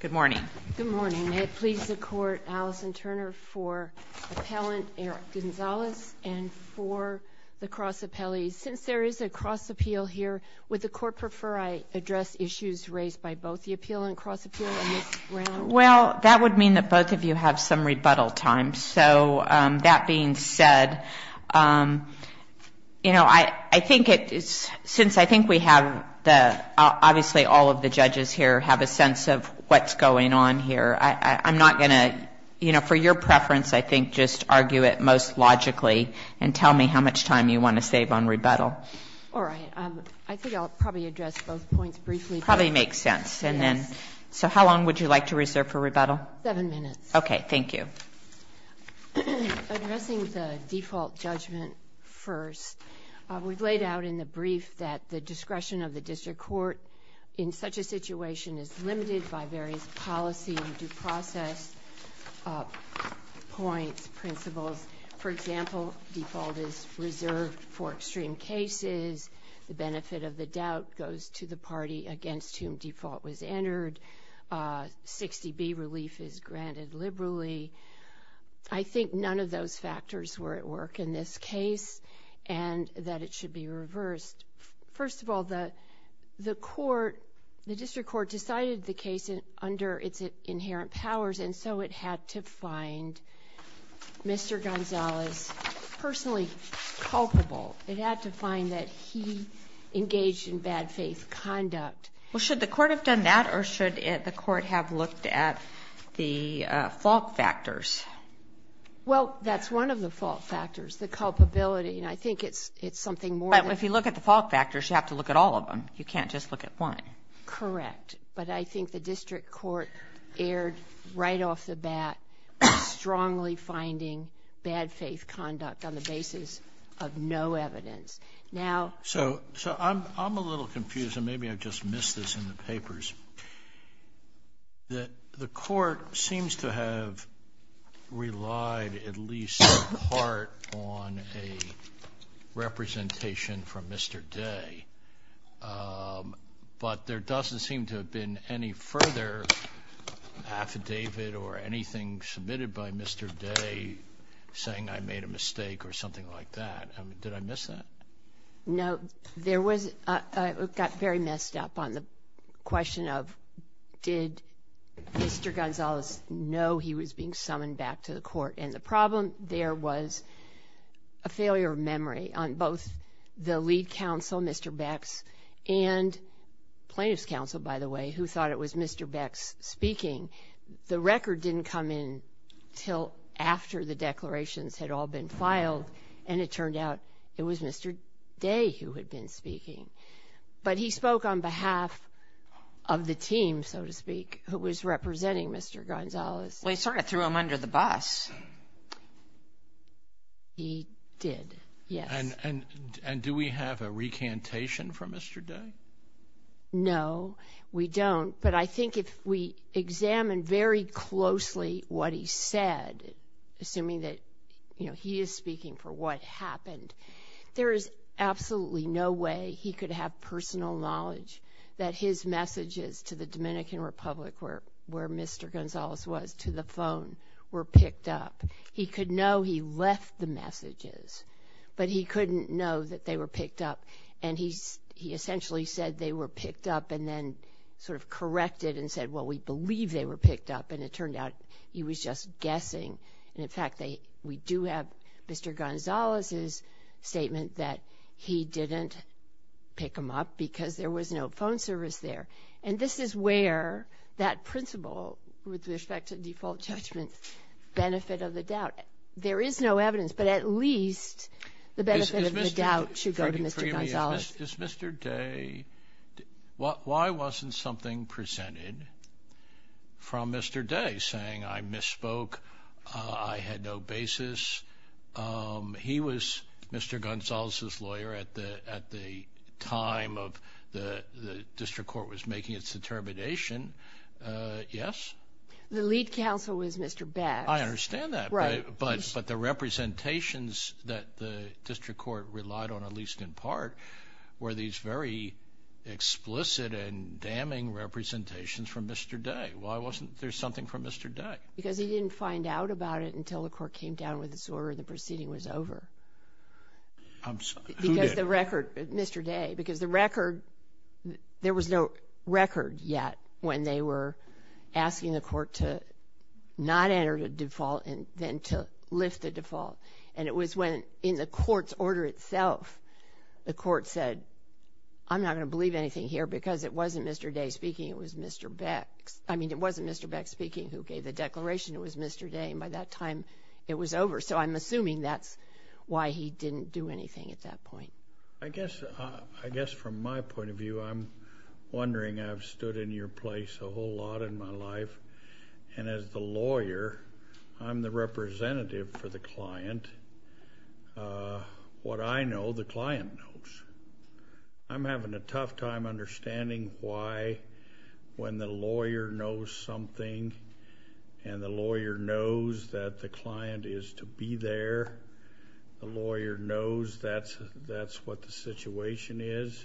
Good morning. Good morning. May it please the Court, Alison Turner for Appellant Eric Gonzalez and for the cross appellees. Since there is a cross appeal here, would the Court prefer I address issues raised by both the appeal and cross appeal in this round? Well, that would mean that both of you have some rebuttal time. So that being said, you know, I think it's since I think we have the obviously all of the judges here have a sense of what's going on here. I'm not going to, you know, for your preference, I think just argue it most logically and tell me how much time you want to save on rebuttal. All right. I think I'll probably address both points briefly. Probably makes sense. And then so how long would you like to reserve for rebuttal? Seven minutes. Okay. Thank you. Addressing the default judgment first, we've laid out in the brief that the discretion of the district court in such a situation is limited by various policy due process points, principles. For example, default is reserved for extreme cases. The benefit of the doubt goes to the party against whom default was entered. 60B relief is granted liberally. I think none of those factors were at work in this case and that it should be reversed. First of all, the court, the district court decided the case under its inherent powers. And so it had to find Mr. Gonzales personally culpable. It had to find that he engaged in bad faith conduct. Well, should the court have done that or should the court have looked at the fault factors? Well, that's one of the fault factors, the culpability. And I think it's something more than that. If you look at the fault factors, you have to look at all of them. You can't just look at one. Correct. But I think the district court erred right off the bat, strongly finding bad faith conduct on the basis of no evidence. So I'm a little confused and maybe I've just missed this in the papers. The court seems to have relied at least in part on a representation from Mr. Day. But there doesn't seem to have been any further affidavit or anything submitted by Mr. Day saying I made a mistake or something like that. Did I miss that? No, there was, it got very messed up on the question of did Mr. Gonzales know he was being summoned back to the court? And the problem there was a failure of memory on both the lead counsel, Mr. Bex, and plaintiff's counsel, by the way, who thought it was Mr. Bex speaking. The record didn't come in until after the declarations had all been filed and it turned out it was Mr. Day who had been speaking. But he spoke on behalf of the team, so to speak, who was representing Mr. Gonzales. Well, he sort of threw him under the bus. He did, yes. And do we have a recantation from Mr. Day? No, we don't. But I think if we examine very closely what he said, assuming that, you know, he is speaking for what happened, there is absolutely no way he could have personal knowledge that his messages to the Dominican Republic, where Mr. Gonzales was, to the phone, were picked up. He could know he left the messages, but he couldn't know that they were picked up. And he essentially said they were picked up and then sort of corrected and said, well, we believe they were picked up. And it turned out he was just guessing. And in fact, we do have Mr. Gonzales's statement that he didn't pick them up because there was no phone service there. And this is where that principle, with respect to default judgment, benefit of the doubt. There is no evidence, but at least the benefit of the doubt should go to Mr. Gonzales. Is Mr. Day, why wasn't something presented from Mr. Day, saying I misspoke, I had no basis? He was Mr. Gonzales's lawyer at the time of the district court was making its determination. Yes? The lead counsel was Mr. Bass. I understand that, but the representations that the district court relied on, at least in part, were these very explicit and damning representations from Mr. Day. Why wasn't there something from Mr. Day? Because he didn't find out about it until the court came down with this order and the proceeding was over. I'm sorry, who did? Because the record, Mr. Day, because the record, there was no record yet when they were asking the court to not enter a default and then to lift a default. And it was when, in the court's order itself, the court said, I'm not going to believe anything here because it wasn't Mr. Day speaking, it was Mr. Beck. I mean, it wasn't Mr. Beck speaking who gave the declaration, it was Mr. Day. And by that time, it was over. So I'm assuming that's why he didn't do anything at that point. I guess, I guess from my point of view, I'm wondering, I've stood in your place a whole lot in my life. And as the lawyer, I'm the representative for the client. What I know, the client knows. I'm having a tough time understanding why when the lawyer knows something and the lawyer knows that the client is to be there, the lawyer knows that's what the situation is,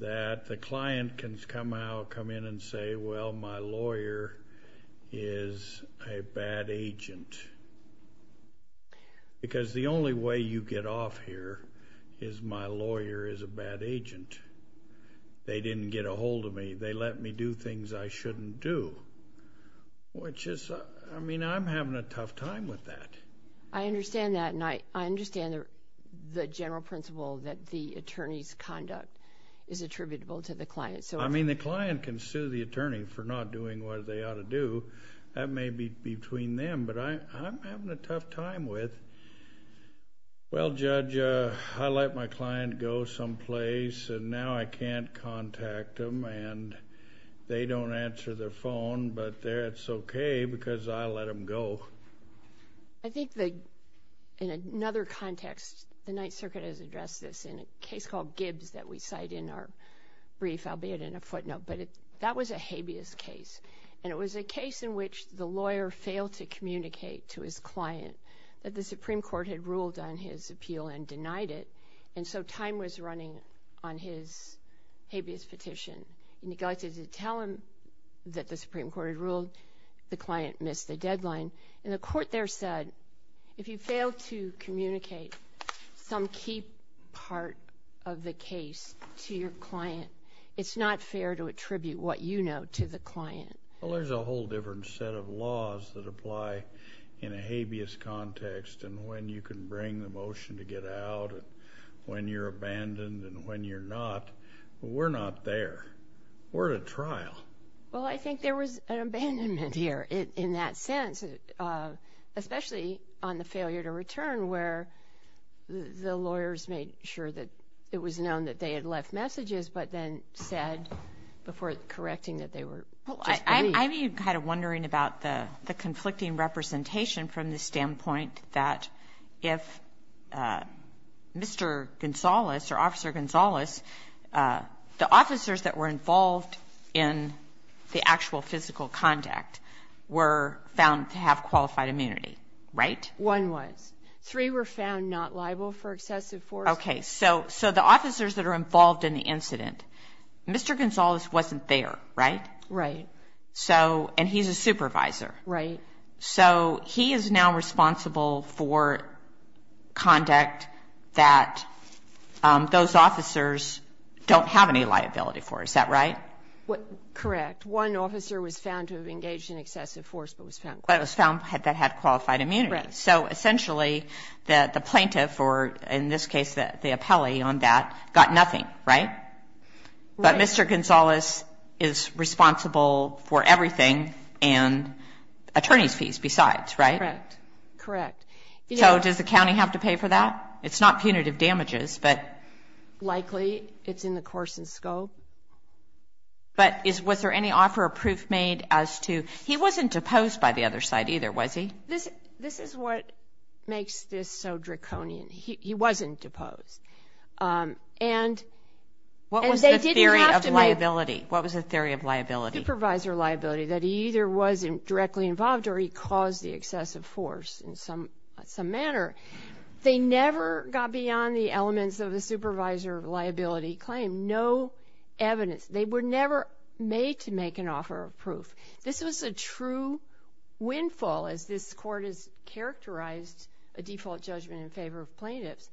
that the client can come out, come in and say, well, my lawyer is a bad agent. Because the only way you get off here is my lawyer is a bad agent. They didn't get a hold of me. They let me do things I shouldn't do, which is, I mean, I'm having a tough time with that. I understand that. And I understand the general principle that the attorney's conduct is attributable to the client. So I mean, the client can sue the attorney for not doing what they ought to do. That may be between them. But I'm having a tough time with, well, Judge, I let my client go someplace and now I can't contact them and they don't answer their phone. But that's okay because I let them go. I think that in another context, the Ninth Circuit has addressed this in a case called Gibbs that we cite in our brief, albeit in a footnote. But that was a habeas case. And it was a case in which the lawyer failed to communicate to his client that the Supreme Court had ruled on his appeal and denied it. And so time was running on his habeas petition. And he got to tell him that the Supreme Court had ruled the client missed the deadline. And the court there said, if you fail to communicate some key part of the case to your client, it's not fair to attribute what you know to the client. Well, there's a whole different set of laws that apply in a habeas context. And when you can bring the motion to get out, when you're abandoned, and when you're not, we're not there. We're at a trial. Well, I think there was an abandonment here in that sense, especially on the failure to return, where the lawyers made sure that it was known that they had left messages, but then said before correcting that they were just briefed. I'm even kind of wondering about the conflicting representation from the standpoint that if Mr. Gonzales or Officer Gonzales, the officers that were involved in the actual physical contact were found to have qualified immunity, right? One was. Three were found not liable for excessive force. Okay, so the officers that are involved in the incident, Mr. Gonzales wasn't there, right? Right. So, and he's a supervisor. Right. So he is now responsible for conduct that those officers don't have any liability for. Is that right? Correct. One officer was found to have engaged in excessive force, but was found qualified. But was found that had qualified immunity. Right. So essentially, the plaintiff, or in this case the appellee on that, got nothing, right? Right. But Mr. Gonzales is responsible for everything and attorney's fees besides, right? Correct. So does the county have to pay for that? It's not punitive damages, but likely it's in the course and scope. But was there any offer of proof made as to, he wasn't deposed by the other side either, was he? This is what makes this so draconian. He wasn't deposed. And they didn't have to make- What was the theory of liability? What was the theory of liability? Supervisor liability, that he either wasn't directly involved or he caused the excessive force in some manner. They never got beyond the elements of the supervisor liability claim. No evidence. They were never made to make an offer of proof. This was a true windfall, as this court has characterized a default judgment in favor of plaintiffs,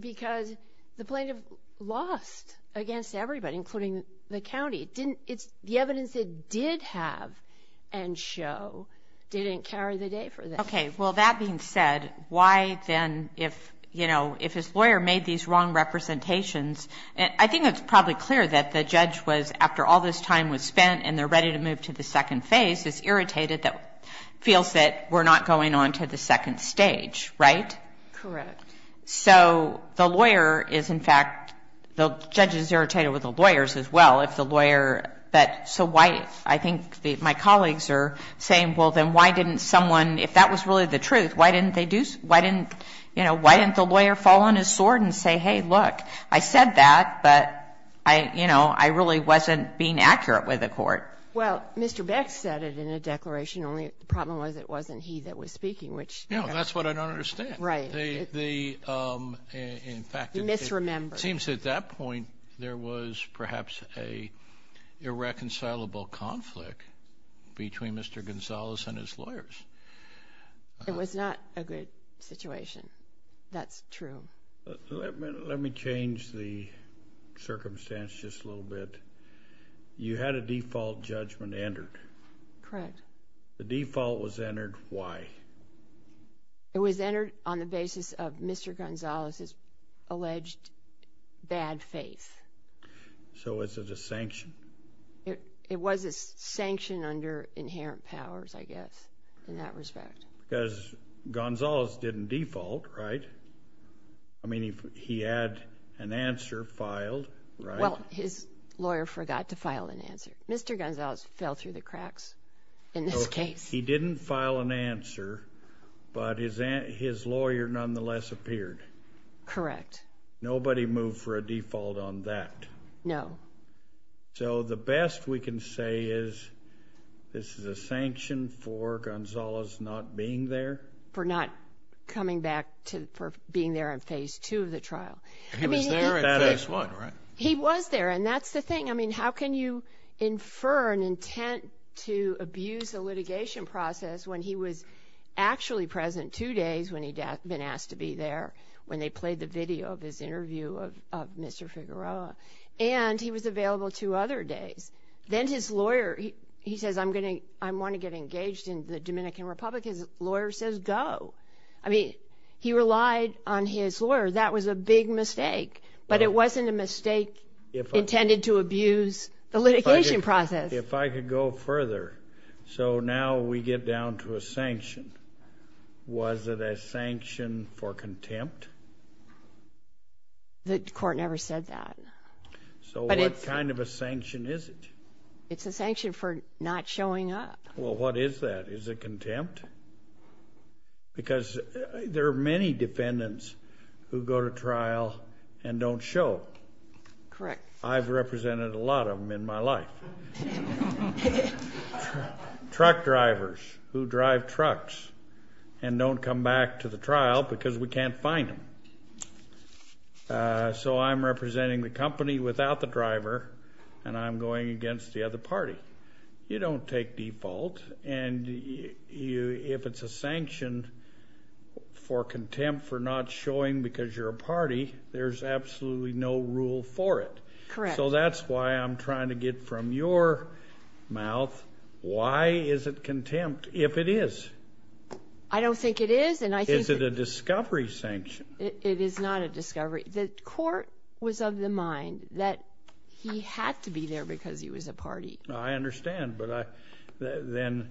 because the plaintiff lost against everybody, including the county. The evidence it did have and show didn't carry the day for them. Okay. Well, that being said, why then, if his lawyer made these wrong representations, I think it's probably clear that the judge was, after all this time was spent and they're ready to move to the second phase, is irritated, feels that we're not going on to the second stage, right? Correct. So the lawyer is, in fact, the judge is irritated with the lawyers as well, if the lawyer that, so why, I think my colleagues are saying, well, then why didn't someone, if that was really the truth, why didn't they do, why didn't, you know, why didn't the lawyer fall on his sword and say, hey, look, I said that, but I, you know, I really wasn't being accurate with the court. Well, Mr. Beck said it in a declaration, only the problem was it wasn't he that was speaking, which- No, that's what I don't understand. The, in fact- He misremembered. It seems at that point there was perhaps a irreconcilable conflict between Mr. Gonzalez and his lawyers. It was not a good situation. That's true. Let me change the circumstance just a little bit. You had a default judgment entered. Correct. The default was entered. Why? It was entered on the basis of Mr. Gonzalez's alleged bad faith. So was it a sanction? It was a sanction under inherent powers, I guess, in that respect. Because Gonzalez didn't default, right? I mean, he had an answer filed, right? Well, his lawyer forgot to file an answer. Mr. Gonzalez fell through the cracks in this case. He didn't file an answer, but his lawyer nonetheless appeared. Correct. Nobody moved for a default on that. No. So the best we can say is this is a sanction for Gonzalez not being there? For not coming back to, for being there in Phase 2 of the trial. He was there in Phase 1, right? He was there, and that's the thing. I mean, how can you infer an intent to abuse a litigation process when he was actually present two days when he'd been asked to be there, when they played the video of his interview of Mr. Figueroa? And he was available two other days. Then his lawyer, he says, I want to get engaged in the Dominican Republic. His lawyer says go. I mean, he relied on his lawyer. That was a big mistake. But it wasn't a mistake intended to abuse the litigation process. If I could go further. So now we get down to a sanction. Was it a sanction for contempt? The court never said that. So what kind of a sanction is it? It's a sanction for not showing up. Well, what is that? Is it contempt? Because there are many defendants who go to trial and don't show. Correct. I've represented a lot of them in my life. Truck drivers who drive trucks and don't come back to the trial because we can't find them. So I'm representing the company without the driver, and I'm going against the other party. You don't take default, and if it's a sanction for contempt for not showing because you're a party, there's absolutely no rule for it. Correct. So that's why I'm trying to get from your mouth, why is it contempt if it is? I don't think it is. Is it a discovery sanction? It is not a discovery. The court was of the mind that he had to be there because he was a party. I understand. But then,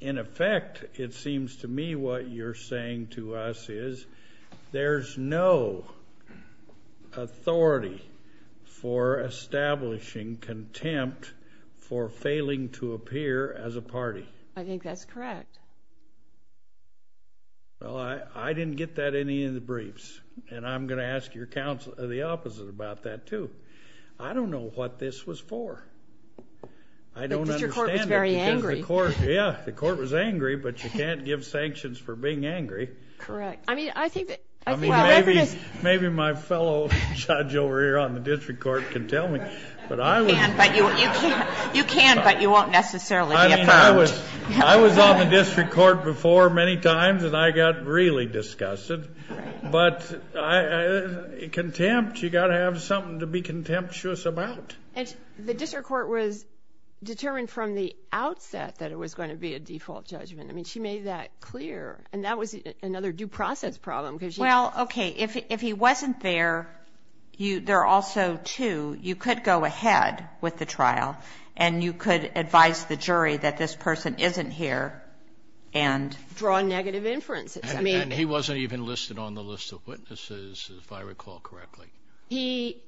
in effect, it seems to me what you're saying to us is there's no authority for establishing contempt for failing to appear as a party. I think that's correct. Well, I didn't get that in any of the briefs, and I'm going to ask your counsel the opposite about that too. I don't know what this was for. The district court was very angry. Yeah, the court was angry, but you can't give sanctions for being angry. Correct. Maybe my fellow judge over here on the district court can tell me. You can, but you won't necessarily be affirmed. I was on the district court before many times, and I got really disgusted. But contempt, you've got to have something to be contemptuous about. And the district court was determined from the outset that it was going to be a default judgment. I mean, she made that clear, and that was another due process problem because she wasn't. Well, okay, if he wasn't there, there are also two. You could go ahead with the trial, and you could advise the jury that this person isn't here and draw negative inferences. And he wasn't even listed on the list of witnesses, if I recall correctly. He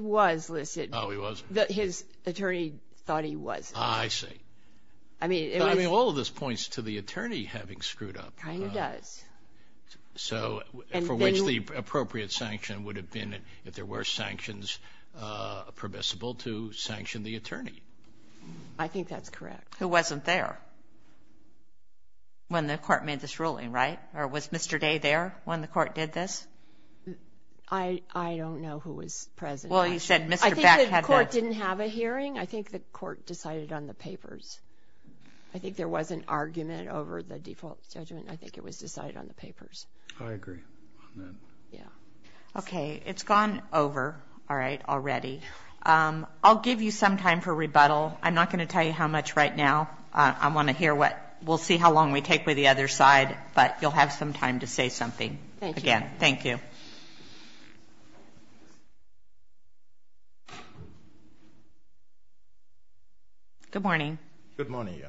was listed. Oh, he was? His attorney thought he was. I see. I mean, it was. I mean, all of this points to the attorney having screwed up. Kind of does. So for which the appropriate sanction would have been, if there were sanctions permissible, to sanction the attorney. I think that's correct. Who wasn't there when the court made this ruling, right? Or was Mr. Day there when the court did this? I don't know who was present. Well, you said Mr. Beck had been. I think the court didn't have a hearing. I think the court decided on the papers. I think there was an argument over the default judgment, and I think it was decided on the papers. I agree on that. Yeah. Okay, it's gone over, all right, already. I'll give you some time for rebuttal. I'm not going to tell you how much right now. I want to hear what we'll see how long we take with the other side, but you'll have some time to say something again. Thank you. Good morning. Good morning,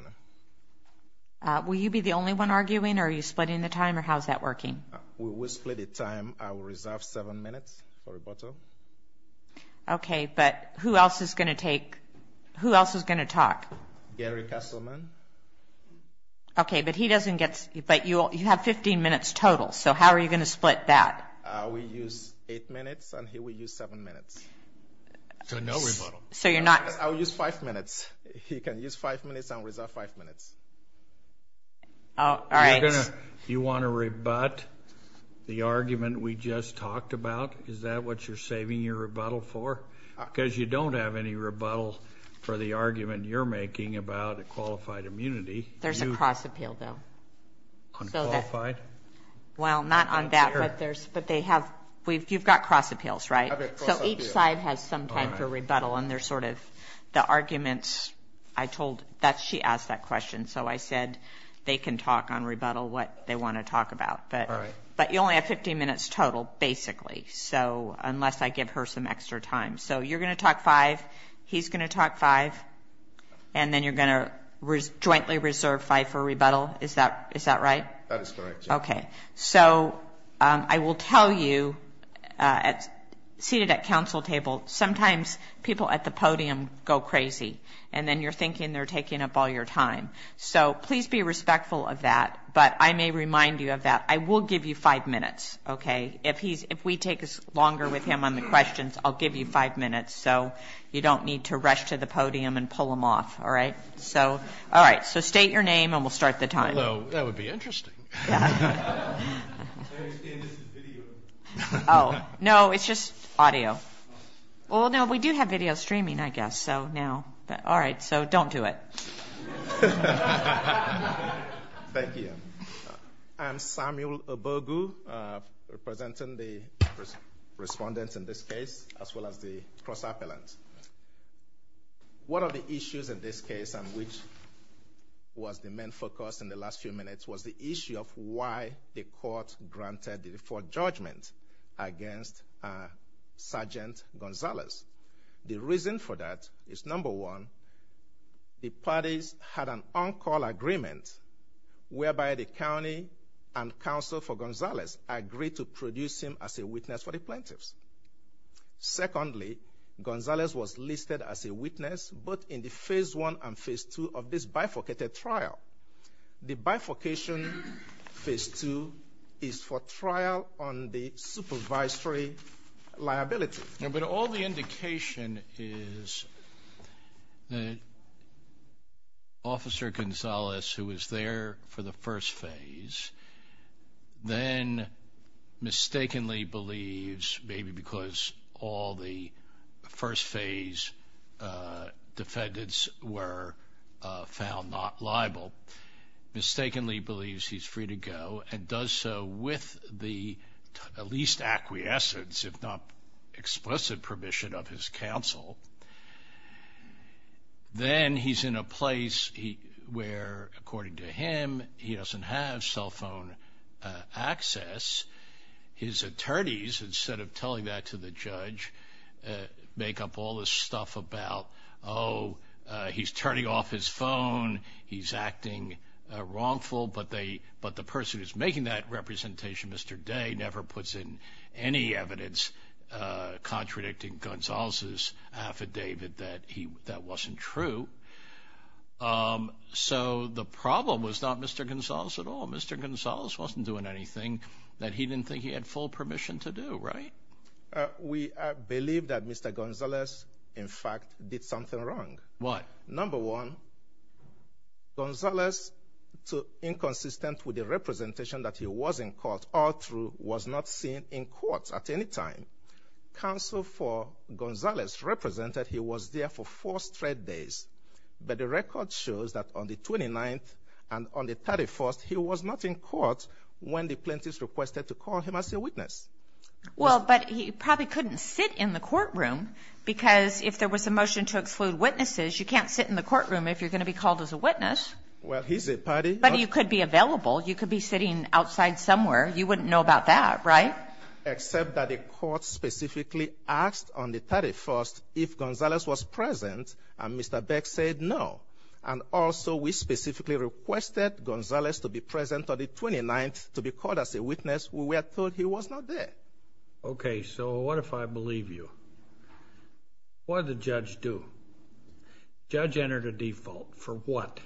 Anna. Will you be the only one arguing, or are you splitting the time, or how is that working? We split the time. I will reserve seven minutes for rebuttal. Okay, but who else is going to talk? Gary Kesselman. Okay, but you have 15 minutes total, so how are you going to split that? I will use eight minutes, and he will use seven minutes. So no rebuttal. I will use five minutes. He can use five minutes and reserve five minutes. All right. You want to rebut the argument we just talked about? Is that what you're saving your rebuttal for? Because you don't have any rebuttal for the argument you're making about a qualified immunity. There's a cross appeal, though. On qualified? Well, not on that, but you've got cross appeals, right? So each side has some type of rebuttal, and they're sort of the arguments. She asked that question, so I said they can talk on rebuttal, what they want to talk about. All right. But you only have 15 minutes total, basically, unless I give her some extra time. So you're going to talk five, he's going to talk five, and then you're going to jointly reserve five for rebuttal. Is that right? That is correct, yes. Okay. So I will tell you, seated at council table, sometimes people at the podium go crazy, and then you're thinking they're taking up all your time. So please be respectful of that, but I may remind you of that. I will give you five minutes, okay? If we take longer with him on the questions, I'll give you five minutes, so you don't need to rush to the podium and pull him off. All right? All right. So state your name, and we'll start the time. Hello. That would be interesting. Oh, no, it's just audio. Well, no, we do have video streaming, I guess, so no. All right, so don't do it. Thank you. I'm Samuel Obogu, representing the respondents in this case, as well as the cross-appellant. One of the issues in this case, and which was the main focus in the last few minutes, was the issue of why the court granted the default judgment against Sergeant Gonzalez. The reason for that is, number one, the parties had an on-call agreement, whereby the county and council for Gonzalez agreed to produce him as a witness for the plaintiffs. Secondly, Gonzalez was listed as a witness both in the phase one and phase two of this bifurcated trial. The bifurcation phase two is for trial on the supervisory liability. But all the indication is that Officer Gonzalez, who was there for the first phase, then mistakenly believes, maybe because all the first phase defendants were found not liable, mistakenly believes he's free to go and does so with the least acquiescence, if not explicit permission, of his counsel. Then he's in a place where, according to him, he doesn't have cell phone access. His attorneys, instead of telling that to the judge, make up all this stuff about, oh, he's turning off his phone, he's acting wrongful, but the person who's making that representation, Mr. Day, never puts in any evidence contradicting Gonzalez's affidavit that that wasn't true. So the problem was not Mr. Gonzalez at all. Mr. Gonzalez wasn't doing anything that he didn't think he had full permission to do, right? We believe that Mr. Gonzalez, in fact, did something wrong. What? Number one, Gonzalez, inconsistent with the representation that he was in court all through, was not seen in court at any time. Counsel for Gonzalez represented he was there for four straight days. But the record shows that on the 29th and on the 31st, he was not in court when the plaintiffs requested to call him as a witness. Well, but he probably couldn't sit in the courtroom because if there was a motion to exclude witnesses, you can't sit in the courtroom if you're going to be called as a witness. Well, he's a party. But he could be available. You could be sitting outside somewhere. You wouldn't know about that, right? Except that the court specifically asked on the 31st if Gonzalez was present, and Mr. Beck said no. And also we specifically requested Gonzalez to be present on the 29th to be called as a witness. We were told he was not there. Okay, so what if I believe you? What did the judge do? The judge entered a default. For what?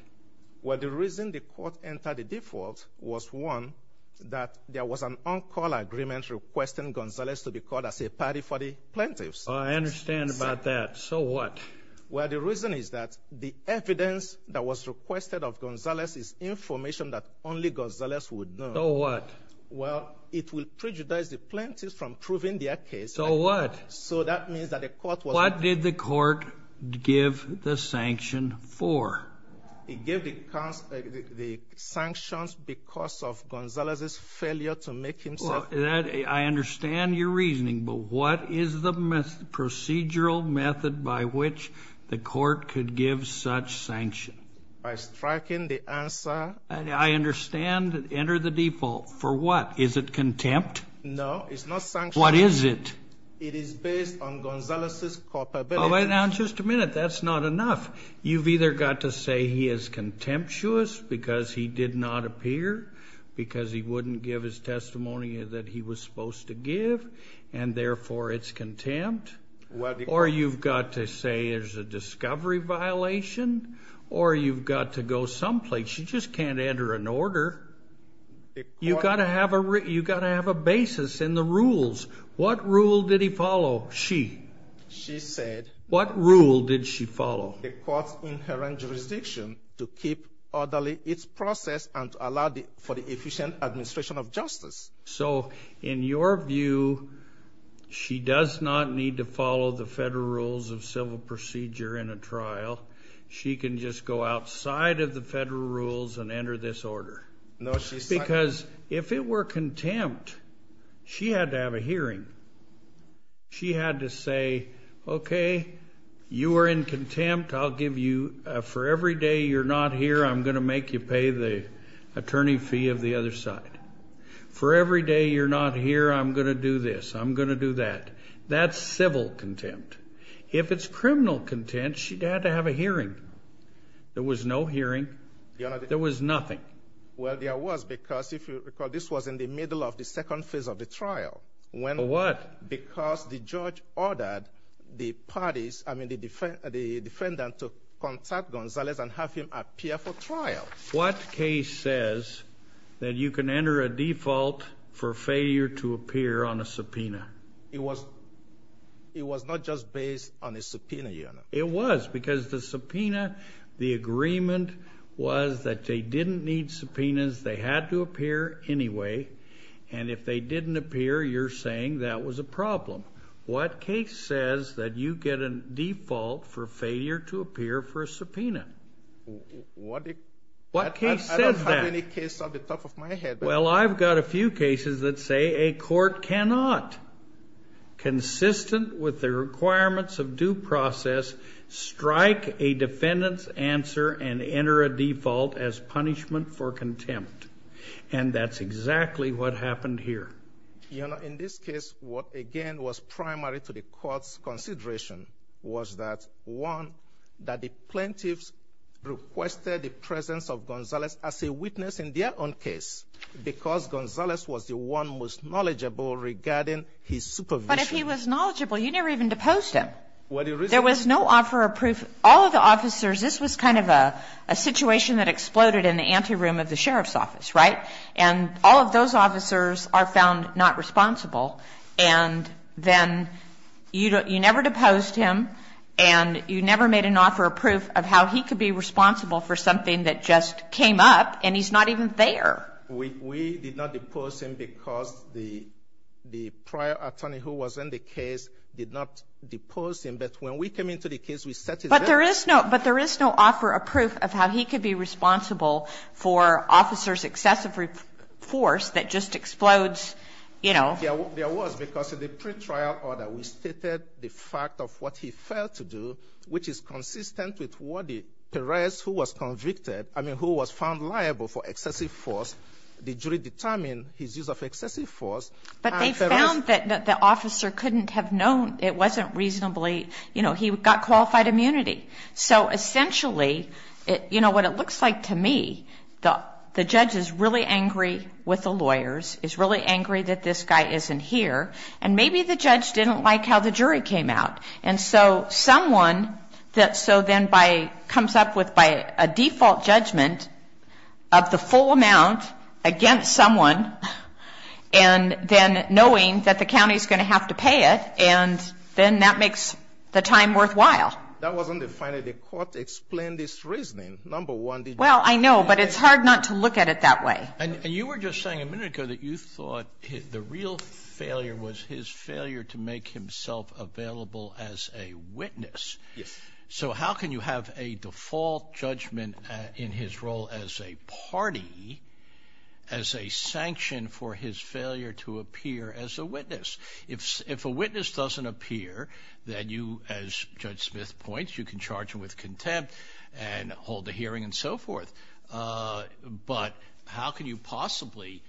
Well, the reason the court entered a default was, one, that there was an on-call agreement requesting Gonzalez to be called as a party for the plaintiffs. I understand about that. So what? Well, the reason is that the evidence that was requested of Gonzalez is information that only Gonzalez would know. So what? Well, it would prejudice the plaintiffs from proving their case. So what? So that means that the court was going to be called as a witness. What did the court give the sanction for? It gave the sanctions because of Gonzalez's failure to make himself known. Well, I understand your reasoning. But what is the procedural method by which the court could give such sanction? By striking the answer. I understand. Enter the default. For what? Is it contempt? No, it's not sanction. What is it? It is based on Gonzalez's culpability. Now, just a minute. That's not enough. You've either got to say he is contemptuous because he did not appear, because he wouldn't give his testimony that he was supposed to give, and therefore it's contempt. Or you've got to say there's a discovery violation. Or you've got to go someplace. You just can't enter an order. You've got to have a basis in the rules. What rule did he follow? She. She said. What rule did she follow? The court's inherent jurisdiction to keep orderly its process and to allow for the efficient administration of justice. So in your view, she does not need to follow the federal rules of civil procedure in a trial. She can just go outside of the federal rules and enter this order. Because if it were contempt, she had to have a hearing. She had to say, okay, you are in contempt. I'll give you, for every day you're not here, I'm going to make you pay the attorney fee of the other side. For every day you're not here, I'm going to do this. I'm going to do that. That's civil contempt. If it's criminal contempt, she had to have a hearing. There was no hearing. There was nothing. Well, there was, because if you recall, this was in the middle of the second phase of the trial. What? Because the judge ordered the parties, I mean the defendant, to contact Gonzalez and have him appear for trial. What case says that you can enter a default for failure to appear on a subpoena? It was not just based on a subpoena, Your Honor. It was, because the subpoena, the agreement was that they didn't need subpoenas. They had to appear anyway. And if they didn't appear, you're saying that was a problem. What case says that you get a default for failure to appear for a subpoena? What case says that? I don't have any case on the top of my head. Well, I've got a few cases that say a court cannot, consistent with the requirements of due process, strike a defendant's answer and enter a default as punishment for contempt. And that's exactly what happened here. Your Honor, in this case, what, again, was primary to the court's consideration was that, one, that the plaintiffs requested the presence of Gonzalez as a witness in their own case because Gonzalez was the one most knowledgeable regarding his supervision. But if he was knowledgeable, you never even deposed him. There was no offer of proof. All of the officers, this was kind of a situation that exploded in the anteroom of the sheriff's office, right? And all of those officers are found not responsible. And then you never deposed him. And you never made an offer of proof of how he could be responsible for something that just came up, and he's not even there. We did not depose him because the prior attorney who was in the case did not depose him. But when we came into the case, we set it up. But there is no offer of proof of how he could be responsible for officers' excessive force that just explodes, you know. There was, because in the pretrial order, we stated the fact of what he failed to do, which is consistent with what Perez, who was convicted, I mean, who was found liable for excessive force, the jury determined his use of excessive force. But they found that the officer couldn't have known. It wasn't reasonably, you know, he got qualified immunity. So essentially, you know, what it looks like to me, the judge is really angry with the lawyers, is really angry that this guy isn't here. And maybe the judge didn't like how the jury came out. And so someone that so then comes up with a default judgment of the full amount against someone, and then knowing that the county is going to have to pay it, and then that makes the time worthwhile. That wasn't the final. The court explained its reasoning, number one. Well, I know, but it's hard not to look at it that way. And you were just saying a minute ago that you thought the real failure was his failure to make himself available as a witness. Yes. So how can you have a default judgment in his role as a party, as a sanction for his failure to appear as a witness? If a witness doesn't appear, then you, as Judge Smith points, you can charge him with contempt and hold a hearing and so forth. But how can you possibly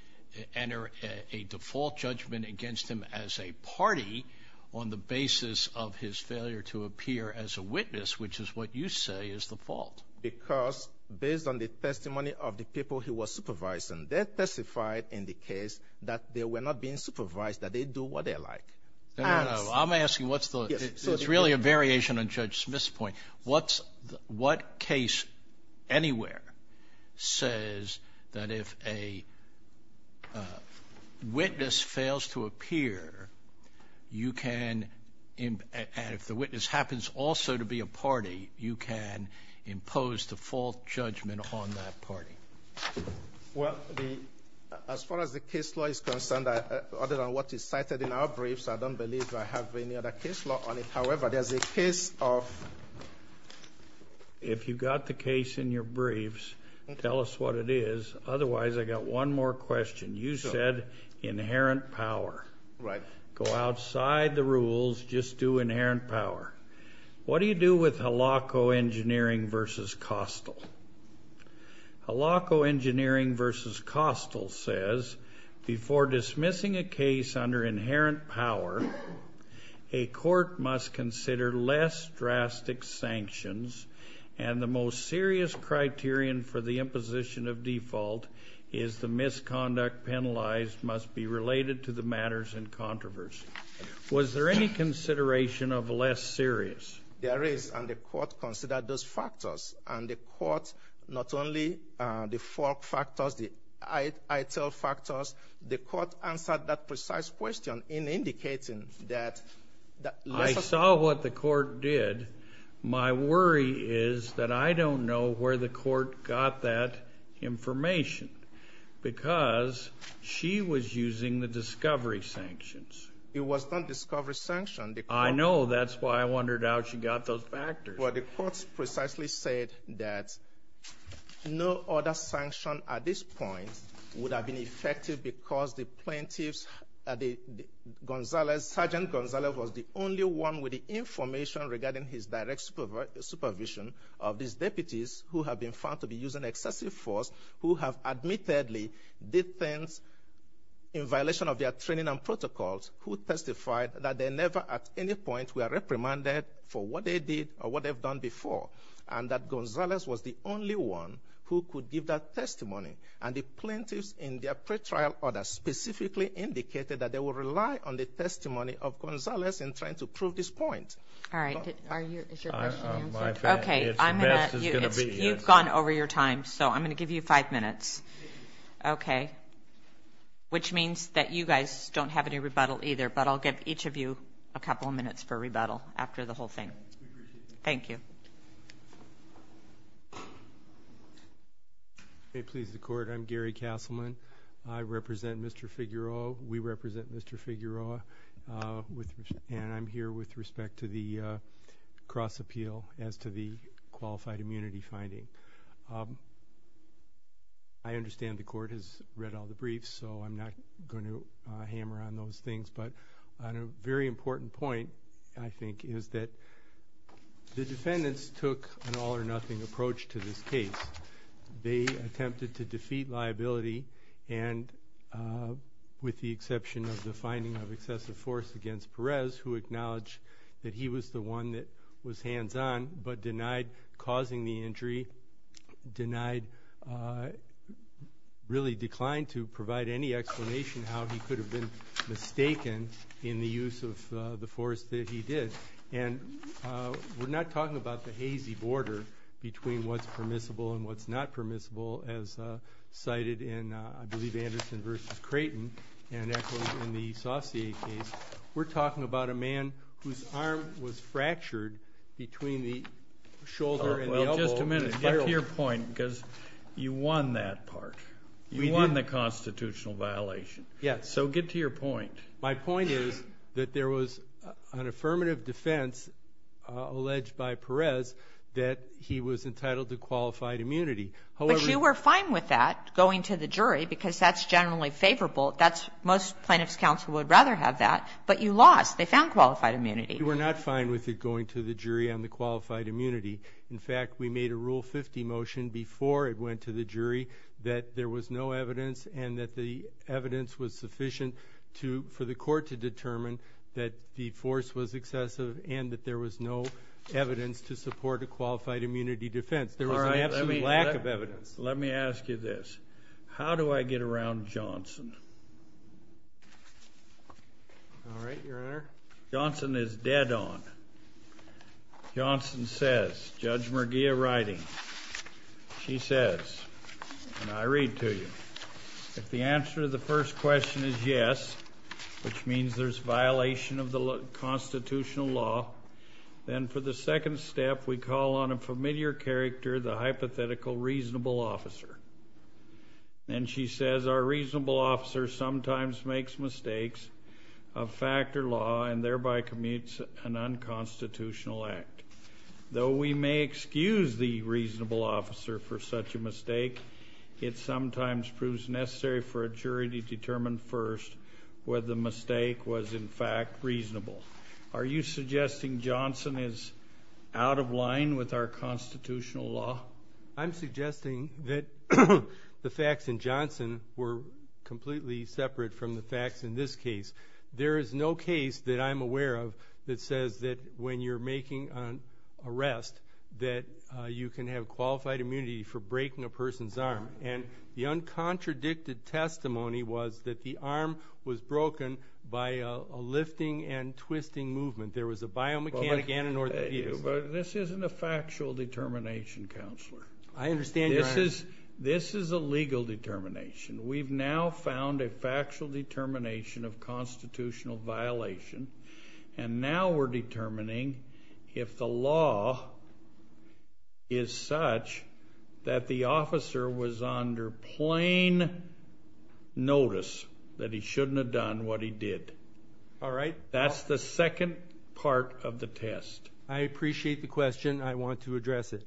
enter a default judgment against him as a party on the basis of his failure to appear as a witness, which is what you say is the fault? Because based on the testimony of the people he was supervising, they testified in the case that they were not being supervised, that they do what they like. No, no, no. I'm asking what's the – it's really a variation on Judge Smith's point. What case anywhere says that if a witness fails to appear, you can – and if the witness happens also to be a party, you can impose default judgment on that party? Well, as far as the case law is concerned, other than what is cited in our briefs, I don't believe I have any other case law on it. However, there's a case of – If you've got the case in your briefs, tell us what it is. Otherwise, I've got one more question. You said inherent power. Right. Go outside the rules. Just do inherent power. What do you do with Halako Engineering v. Costal? Halako Engineering v. Costal says, before dismissing a case under inherent power, a court must consider less drastic sanctions, and the most serious criterion for the imposition of default is the misconduct penalized must be related to the matters in controversy. Was there any consideration of less serious? There is, and the court considered those factors. And the court, not only the fork factors, the ITIL factors, the court answered that precise question in indicating that – I saw what the court did. My worry is that I don't know where the court got that information, because she was using the discovery sanctions. It was not discovery sanctions. I know. That's why I wondered how she got those factors. Well, the court precisely said that no other sanction at this point would have been effective because the plaintiffs – Gonzalez – Sergeant Gonzalez was the only one with the information regarding his direct supervision of these deputies who have been found to be using excessive force, who have admittedly did things in violation of their training and protocols, who testified that they never at any point were reprimanded for what they did or what they've done before, and that Gonzalez was the only one who could give that testimony. And the plaintiffs in their pretrial order specifically indicated that they would rely on the testimony of Gonzalez in trying to prove this point. All right. Is your question answered? Okay. You've gone over your time, so I'm going to give you five minutes, which means that you guys don't have any rebuttal either, but I'll give each of you a couple of minutes for rebuttal after the whole thing. Thank you. May it please the Court, I'm Gary Castleman. I represent Mr. Figueroa. We represent Mr. Figueroa, and I'm here with respect to the cross-appeal as to the qualified immunity finding. I understand the Court has read all the briefs, so I'm not going to hammer on those things, but on a very important point, I think, is that the defendants took an all-or-nothing approach to this case. They attempted to defeat liability, and with the exception of the finding of excessive force against Perez, who acknowledged that he was the one that was hands-on but denied causing the injury, denied really declined to provide any explanation how he could have been mistaken in the use of the force that he did. And we're not talking about the hazy border between what's permissible and what's not permissible as cited in, I believe, Anderson v. Creighton and echoed in the Saucier case. We're talking about a man whose arm was fractured between the shoulder and the elbow. Just a minute. Get to your point because you won that part. You won the constitutional violation. Yes. So get to your point. My point is that there was an affirmative defense alleged by Perez that he was entitled to qualified immunity. But you were fine with that going to the jury because that's generally favorable. Most plaintiffs' counsel would rather have that. But you lost. They found qualified immunity. We were not fine with it going to the jury on the qualified immunity. In fact, we made a Rule 50 motion before it went to the jury that there was no evidence and that the evidence was sufficient for the court to determine that the force was excessive and that there was no evidence to support a qualified immunity defense. There was an absolute lack of evidence. Let me ask you this. How do I get around Johnson? All right, Your Honor. Johnson is dead on. Johnson says, Judge Merguia writing, she says, and I read to you, if the answer to the first question is yes, which means there's violation of the constitutional law, then for the second step we call on a familiar character, the hypothetical reasonable officer. And she says our reasonable officer sometimes makes mistakes of fact or law and thereby commutes an unconstitutional act. It sometimes proves necessary for a jury to determine first whether the mistake was in fact reasonable. Are you suggesting Johnson is out of line with our constitutional law? I'm suggesting that the facts in Johnson were completely separate from the facts in this case. There is no case that I'm aware of that says that when you're making an arrest that you can have qualified immunity for breaking a person's arm. And the uncontradicted testimony was that the arm was broken by a lifting and twisting movement. There was a biomechanic and an orthopedic. But this isn't a factual determination, Counselor. I understand, Your Honor. This is a legal determination. We've now found a factual determination of constitutional violation, and now we're determining if the law is such that the officer was under plain notice that he shouldn't have done what he did. All right. That's the second part of the test. I appreciate the question. I want to address it.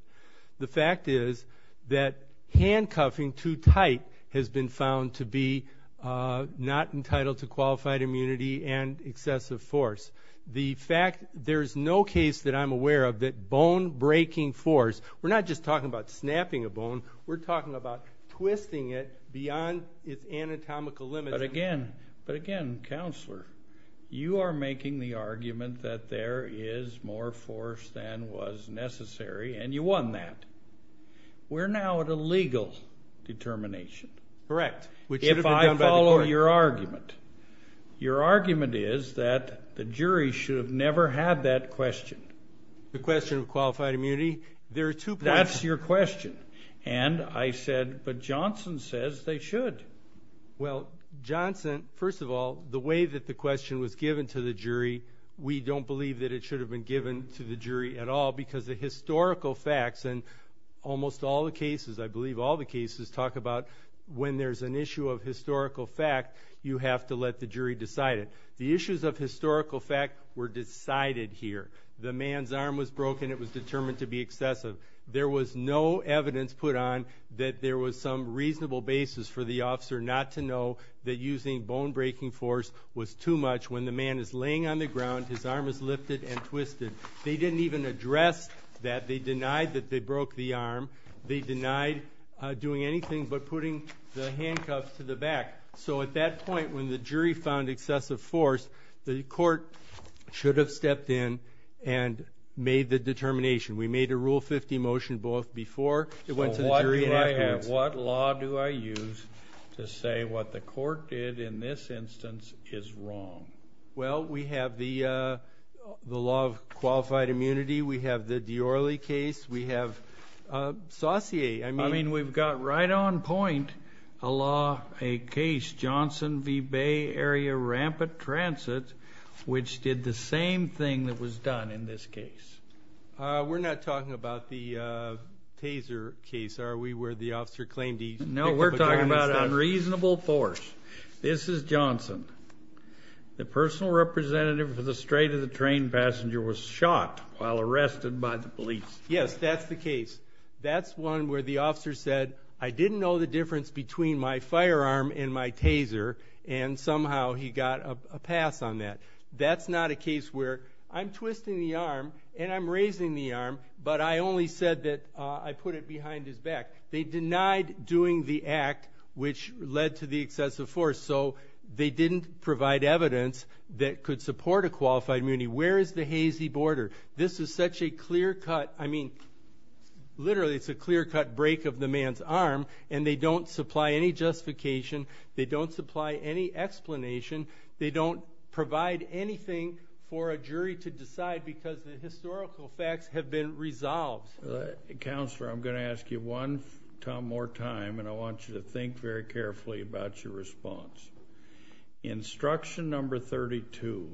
The fact is that handcuffing too tight has been found to be not entitled to qualified immunity and excessive force. The fact there's no case that I'm aware of that bone-breaking force, we're not just talking about snapping a bone, we're talking about twisting it beyond its anatomical limit. But again, Counselor, you are making the argument that there is more force than was necessary, and you won that. We're now at a legal determination. Correct. If I follow your argument. Your argument is that the jury should have never had that question. The question of qualified immunity? That's your question. And I said, but Johnson says they should. Well, Johnson, first of all, the way that the question was given to the jury, we don't believe that it should have been given to the jury at all because the historical facts and almost all the cases, I believe all the cases, talk about when there's an issue of historical fact, you have to let the jury decide it. The issues of historical fact were decided here. The man's arm was broken. It was determined to be excessive. There was no evidence put on that there was some reasonable basis for the officer not to know that using bone-breaking force was too much when the man is laying on the ground, his arm is lifted and twisted. They didn't even address that. They denied that they broke the arm. They denied doing anything but putting the handcuffs to the back. So at that point when the jury found excessive force, the court should have stepped in and made the determination. We made a Rule 50 motion both before it went to the jury and afterwards. So what law do I use to say what the court did in this instance is wrong? Well, we have the law of qualified immunity. We have the Diorle case. We have Saussure. I mean, we've got right on point a law, a case, Johnson v. Bay Area Rampant Transit, which did the same thing that was done in this case. We're not talking about the Taser case, are we, where the officer claimed he picked up a gun. No, we're talking about unreasonable force. This is Johnson. The personal representative for the straight-of-the-train passenger was shot while arrested by the police. Yes, that's the case. That's one where the officer said, I didn't know the difference between my firearm and my Taser, and somehow he got a pass on that. That's not a case where I'm twisting the arm and I'm raising the arm, but I only said that I put it behind his back. They denied doing the act which led to the excessive force. So they didn't provide evidence that could support a qualified immunity. Where is the hazy border? This is such a clear-cut, I mean, literally it's a clear-cut break of the man's arm, and they don't supply any justification. They don't supply any explanation. They don't provide anything for a jury to decide because the historical facts have been resolved. Counselor, I'm going to ask you one more time, and I want you to think very carefully about your response. Instruction number 32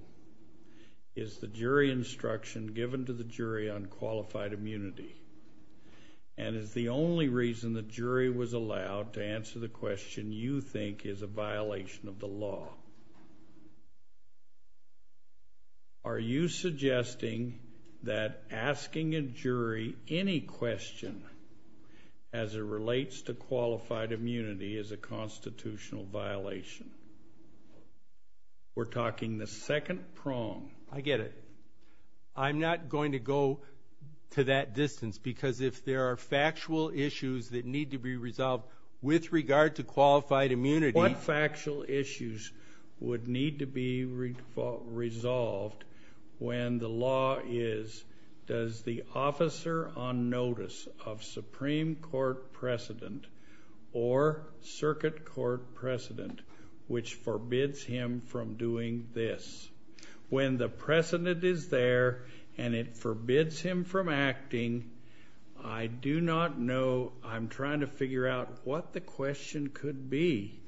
is the jury instruction given to the jury on qualified immunity and is the only reason the jury was allowed to answer the question you think is a violation of the law. Are you suggesting that asking a jury any question as it relates to qualified immunity is a constitutional violation? We're talking the second prong. I get it. I'm not going to go to that distance because if there are factual issues that need to be resolved with regard to qualified immunity. What factual issues would need to be resolved when the law is, does the officer on notice of Supreme Court precedent or circuit court precedent, which forbids him from doing this? When the precedent is there and it forbids him from acting, I do not know. I'm trying to figure out what the question could be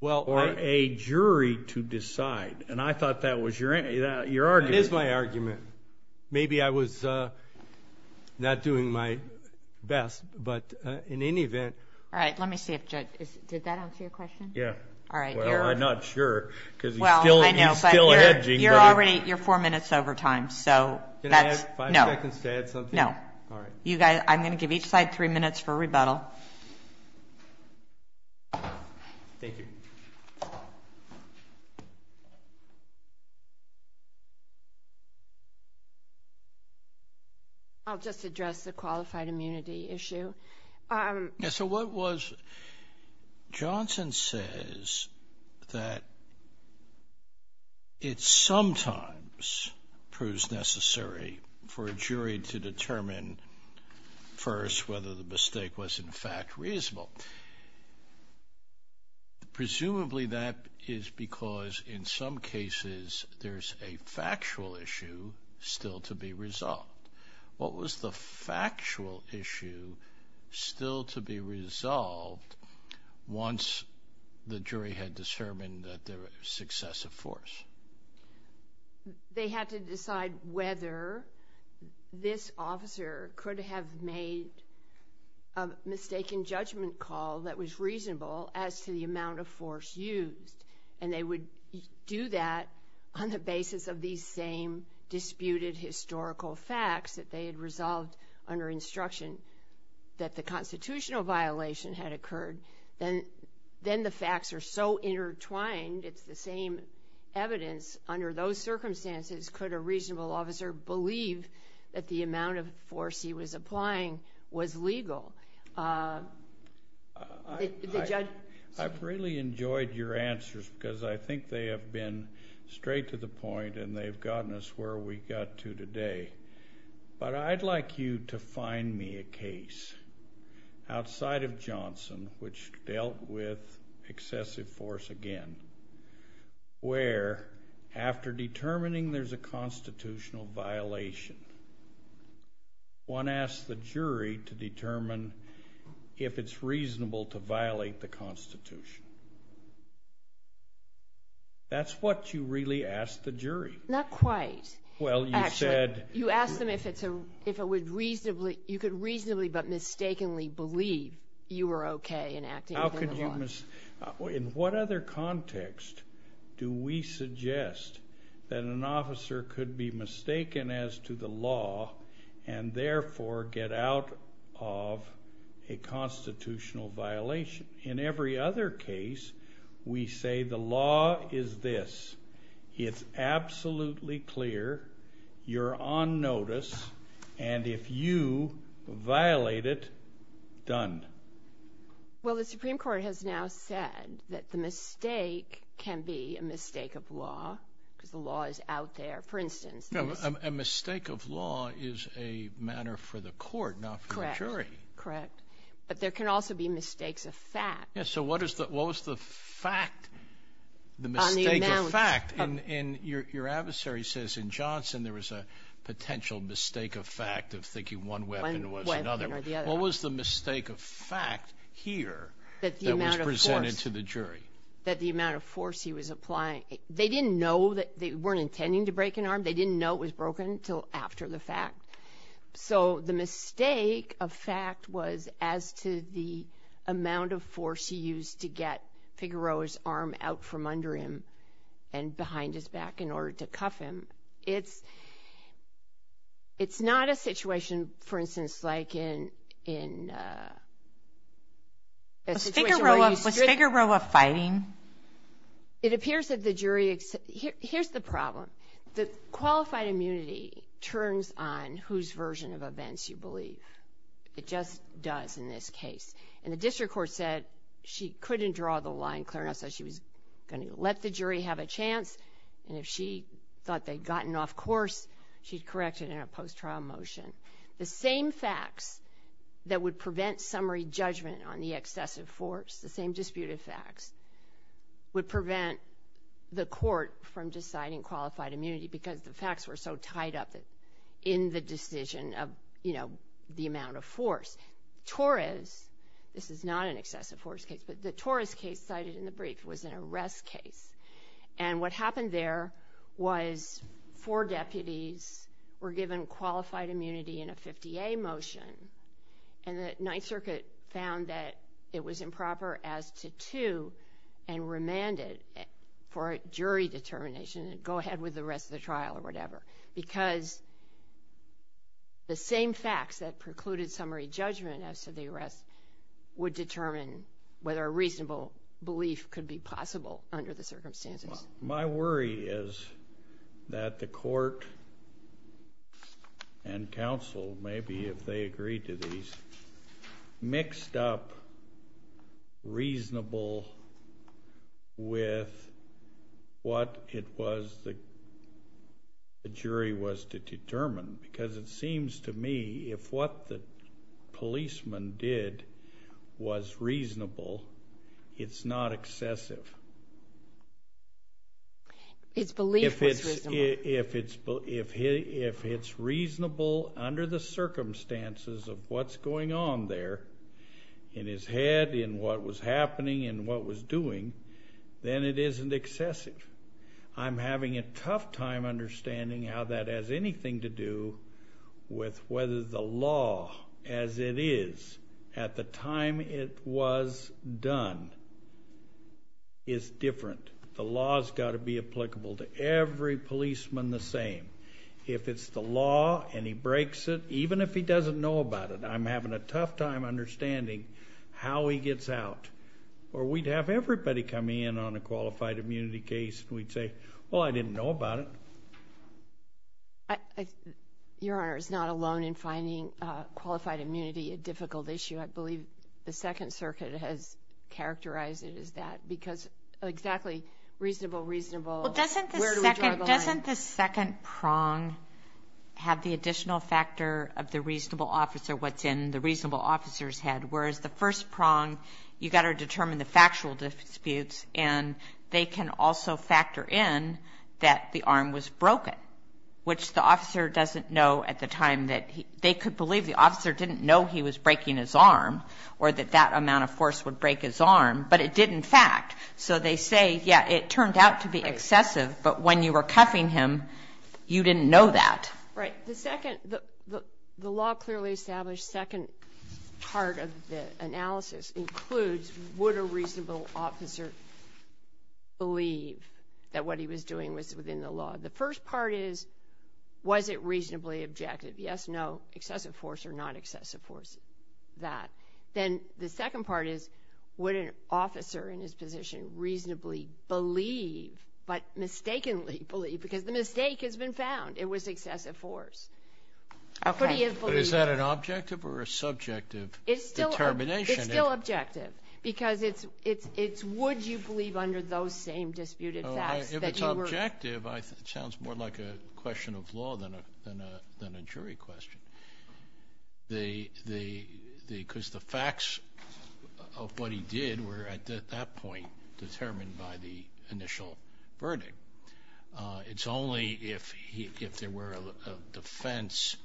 for a jury to decide, and I thought that was your argument. That is my argument. Maybe I was not doing my best, but in any event. All right, let me see if Judge, did that answer your question? Yeah. All right. Well, I'm not sure because he's still hedging. You're four minutes over time. Can I have five seconds to add something? No. All right. I'm going to give each side three minutes for rebuttal. Thank you. I'll just address the qualified immunity issue. So what was, Johnson says that it sometimes proves necessary for a jury to determine first whether the mistake was in fact reasonable. Presumably that is because in some cases there's a factual issue still to be resolved. What was the factual issue still to be resolved once the jury had determined that there was excessive force? They had to decide whether this officer could have made a mistaken judgment call that was reasonable as to the amount of force used, and they would do that on the basis of these same disputed historical facts that they had resolved under instruction that the constitutional violation had occurred. Then the facts are so intertwined, it's the same evidence. Under those circumstances, could a reasonable officer believe that the amount of force he was applying was legal? The judge? I've really enjoyed your answers because I think they have been straight to the point and they've gotten us where we got to today. But I'd like you to find me a case outside of Johnson which dealt with excessive force again where after determining there's a constitutional violation, one asks the jury to determine if it's reasonable to violate the Constitution. That's what you really ask the jury. Not quite. Well, you said... Actually, you asked them if it would reasonably, you could reasonably but mistakenly believe you were okay in acting within the law. In what other context do we suggest that an officer could be mistaken as to the law and therefore get out of a constitutional violation? In every other case, we say the law is this, it's absolutely clear, you're on notice, and if you violate it, done. Well, the Supreme Court has now said that the mistake can be a mistake of law because the law is out there. For instance... A mistake of law is a matter for the court, not for the jury. Correct. But there can also be mistakes of fact. So what was the fact, the mistake of fact? Your adversary says in Johnson there was a potential mistake of fact of thinking one weapon was another. What was the mistake of fact here that was presented to the jury? That the amount of force he was applying, they didn't know, they weren't intending to break an arm, they didn't know it was broken until after the fact. So the mistake of fact was as to the amount of force he used to get Figueroa's arm out from under him and behind his back in order to cuff him. It's not a situation, for instance, like in... Was Figueroa fighting? It appears that the jury... Here's the problem. The qualified immunity turns on whose version of events you believe. It just does in this case. And the district court said she couldn't draw the line clear enough, so she was going to let the jury have a chance, and if she thought they'd gotten off course, she'd correct it in a post-trial motion. The same facts that would prevent summary judgment on the excessive force, the same disputed facts, would prevent the court from deciding qualified immunity because the facts were so tied up in the decision of the amount of force. Torres, this is not an excessive force case, but the Torres case cited in the brief was an arrest case. And what happened there was four deputies were given qualified immunity in a 50A motion, and the Ninth Circuit found that it was improper as to to and remanded for jury determination and go ahead with the rest of the trial or whatever, because the same facts that precluded summary judgment as to the arrest would determine whether a reasonable belief could be possible under the circumstances. My worry is that the court and counsel, maybe if they agree to these, mixed up reasonable with what it was the jury was to determine, because it seems to me if what the policeman did was reasonable, it's not excessive. His belief was reasonable. If it's reasonable under the circumstances of what's going on there in his head, in what was happening, in what was doing, then it isn't excessive. I'm having a tough time understanding how that has anything to do with whether the law as it is at the time it was done is different. The law's got to be applicable to every policeman the same. If it's the law and he breaks it, even if he doesn't know about it, I'm having a tough time understanding how he gets out. Or we'd have everybody come in on a qualified immunity case, and we'd say, well, I didn't know about it. Your Honor, it's not alone in finding qualified immunity a difficult issue. I believe the Second Circuit has characterized it as that, because exactly reasonable, reasonable. Doesn't the second prong have the additional factor of the reasonable officer, what's in the reasonable officer's head, whereas the first prong, you've got to determine the factual disputes, and they can also factor in that the arm was broken, which the officer doesn't know at the time that they could believe. The officer didn't know he was breaking his arm or that that amount of force would break his arm, but it did in fact. So they say, yeah, it turned out to be excessive, but when you were cuffing him, you didn't know that. Right. The second, the law clearly established second part of the analysis includes would a reasonable officer believe that what he was doing was within the law. The first part is, was it reasonably objective? Yes, no, excessive force or not excessive force, that. Then the second part is, would an officer in his position reasonably believe, but mistakenly believe, because the mistake has been found. It was excessive force. Okay. But is that an objective or a subjective determination? It's still objective because it's would you believe under those same disputed facts that you were. If it's objective, it sounds more like a question of law than a jury question. Because the facts of what he did were at that point determined by the initial verdict. It's only if there were a defense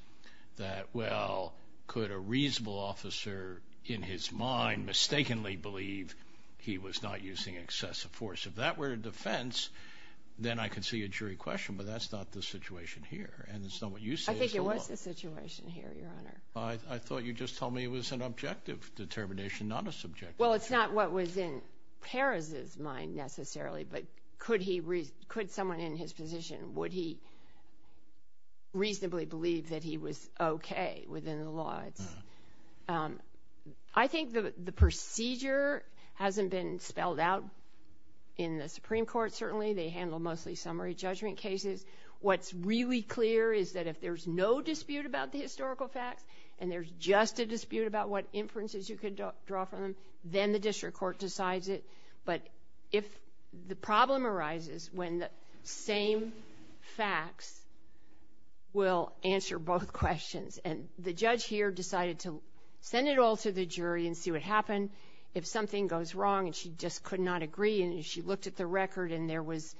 that, well, could a reasonable officer in his mind mistakenly believe he was not using excessive force. If that were a defense, then I could see a jury question, but that's not the situation here. And it's not what you say. I think it was the situation here, Your Honor. I thought you just told me it was an objective determination, not a subjective. Well, it's not what was in Perez's mind necessarily, but could someone in his position, would he reasonably believe that he was okay within the law? I think the procedure hasn't been spelled out in the Supreme Court, certainly. They handle mostly summary judgment cases. What's really clear is that if there's no dispute about the historical facts and there's just a dispute about what inferences you could draw from them, then the district court decides it. But if the problem arises when the same facts will answer both questions, and the judge here decided to send it all to the jury and see what happened, if something goes wrong and she just could not agree and she looked at the record and there was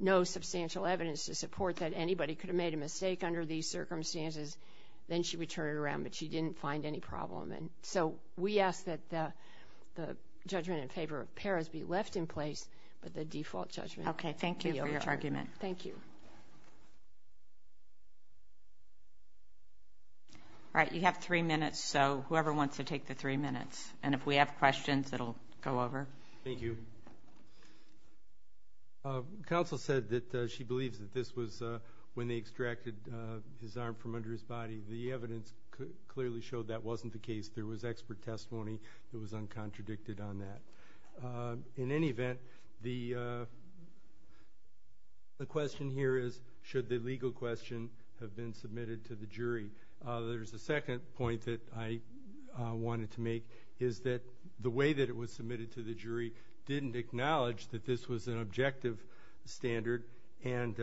no substantial evidence to support that anybody could have made a mistake under these circumstances, then she would turn it around, but she didn't find any problem. And so we ask that the judgment in favor of Perez be left in place, but the default judgment. Okay, thank you for your argument. Thank you. All right, you have three minutes, so whoever wants to take the three minutes. And if we have questions, it will go over. Thank you. Counsel said that she believes that this was when they extracted his arm from under his body. The evidence clearly showed that wasn't the case. There was expert testimony that was uncontradicted on that. In any event, the question here is, should the legal question have been submitted to the jury? There's a second point that I wanted to make is that the way that it was submitted to the jury didn't acknowledge that this was an objective standard, and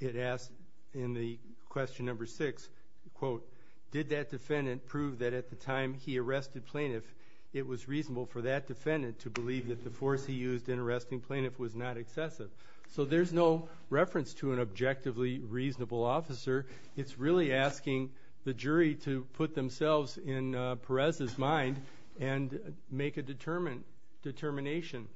it asked in the question number six, quote, did that defendant prove that at the time he arrested plaintiff, it was reasonable for that defendant to believe that the force he used in arresting plaintiff was not excessive. So there's no reference to an objectively reasonable officer. It's really asking the jury to put themselves in Perez's mind and make a determination.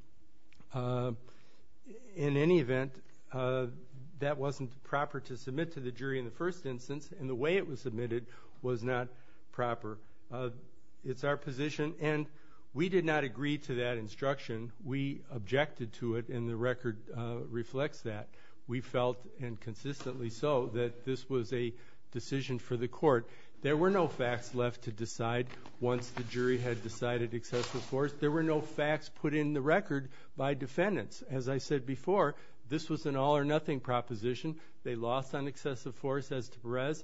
In any event, that wasn't proper to submit to the jury in the first instance, and the way it was submitted was not proper. It's our position, and we did not agree to that instruction. We objected to it, and the record reflects that. We felt, and consistently so, that this was a decision for the court. There were no facts left to decide once the jury had decided excessive force. There were no facts put in the record by defendants. As I said before, this was an all-or-nothing proposition. They lost on excessive force as to Perez.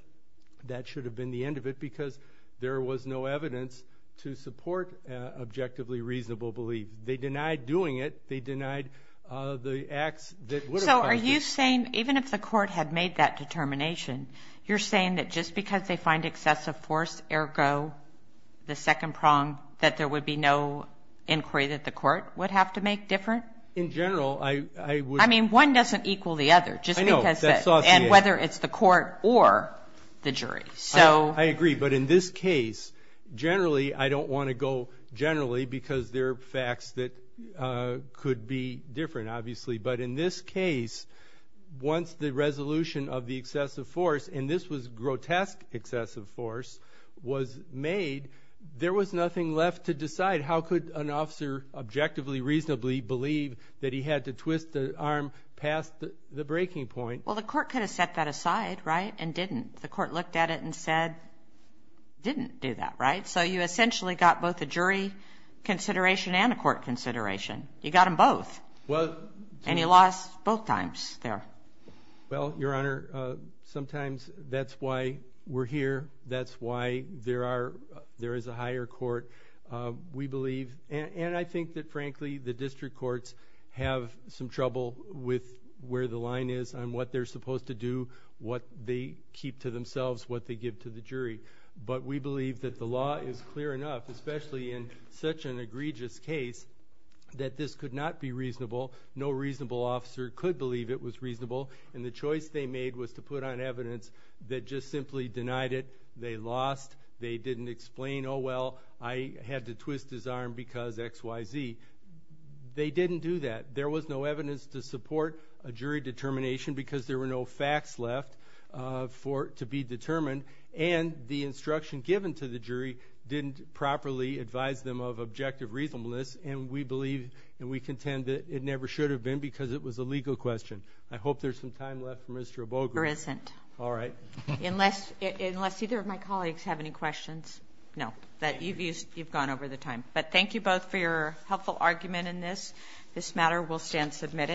That should have been the end of it because there was no evidence to support objectively reasonable belief. They denied doing it. They denied the acts that would have caused it. So are you saying even if the court had made that determination, you're saying that just because they find excessive force, ergo the second prong, that there would be no inquiry that the court would have to make different? In general, I would. I mean, one doesn't equal the other. I know. And whether it's the court or the jury. I agree. But in this case, generally I don't want to go generally because there are facts that could be different, obviously. But in this case, once the resolution of the excessive force, and this was grotesque excessive force, was made, there was nothing left to decide. How could an officer objectively reasonably believe that he had to twist the arm past the breaking point? Well, the court could have set that aside, right, and didn't. The court looked at it and said, didn't do that, right? So you essentially got both a jury consideration and a court consideration. You got them both. And you lost both times there. Well, Your Honor, sometimes that's why we're here. That's why there is a higher court, we believe. And I think that, frankly, the district courts have some trouble with where the line is on what they're supposed to do, what they keep to themselves, what they give to the jury. But we believe that the law is clear enough, especially in such an egregious case, that this could not be reasonable. No reasonable officer could believe it was reasonable. And the choice they made was to put on evidence that just simply denied it. They lost. They didn't explain, oh, well, I had to twist his arm because X, Y, Z. They didn't do that. There was no evidence to support a jury determination because there were no facts left to be determined. And the instruction given to the jury didn't properly advise them of objective reasonableness. And we believe and we contend that it never should have been because it was a legal question. I hope there's some time left for Mr. Oboge. There isn't. All right. Unless either of my colleagues have any questions. No, you've gone over the time. But thank you both for your helpful argument in this matter. We'll stand submitted.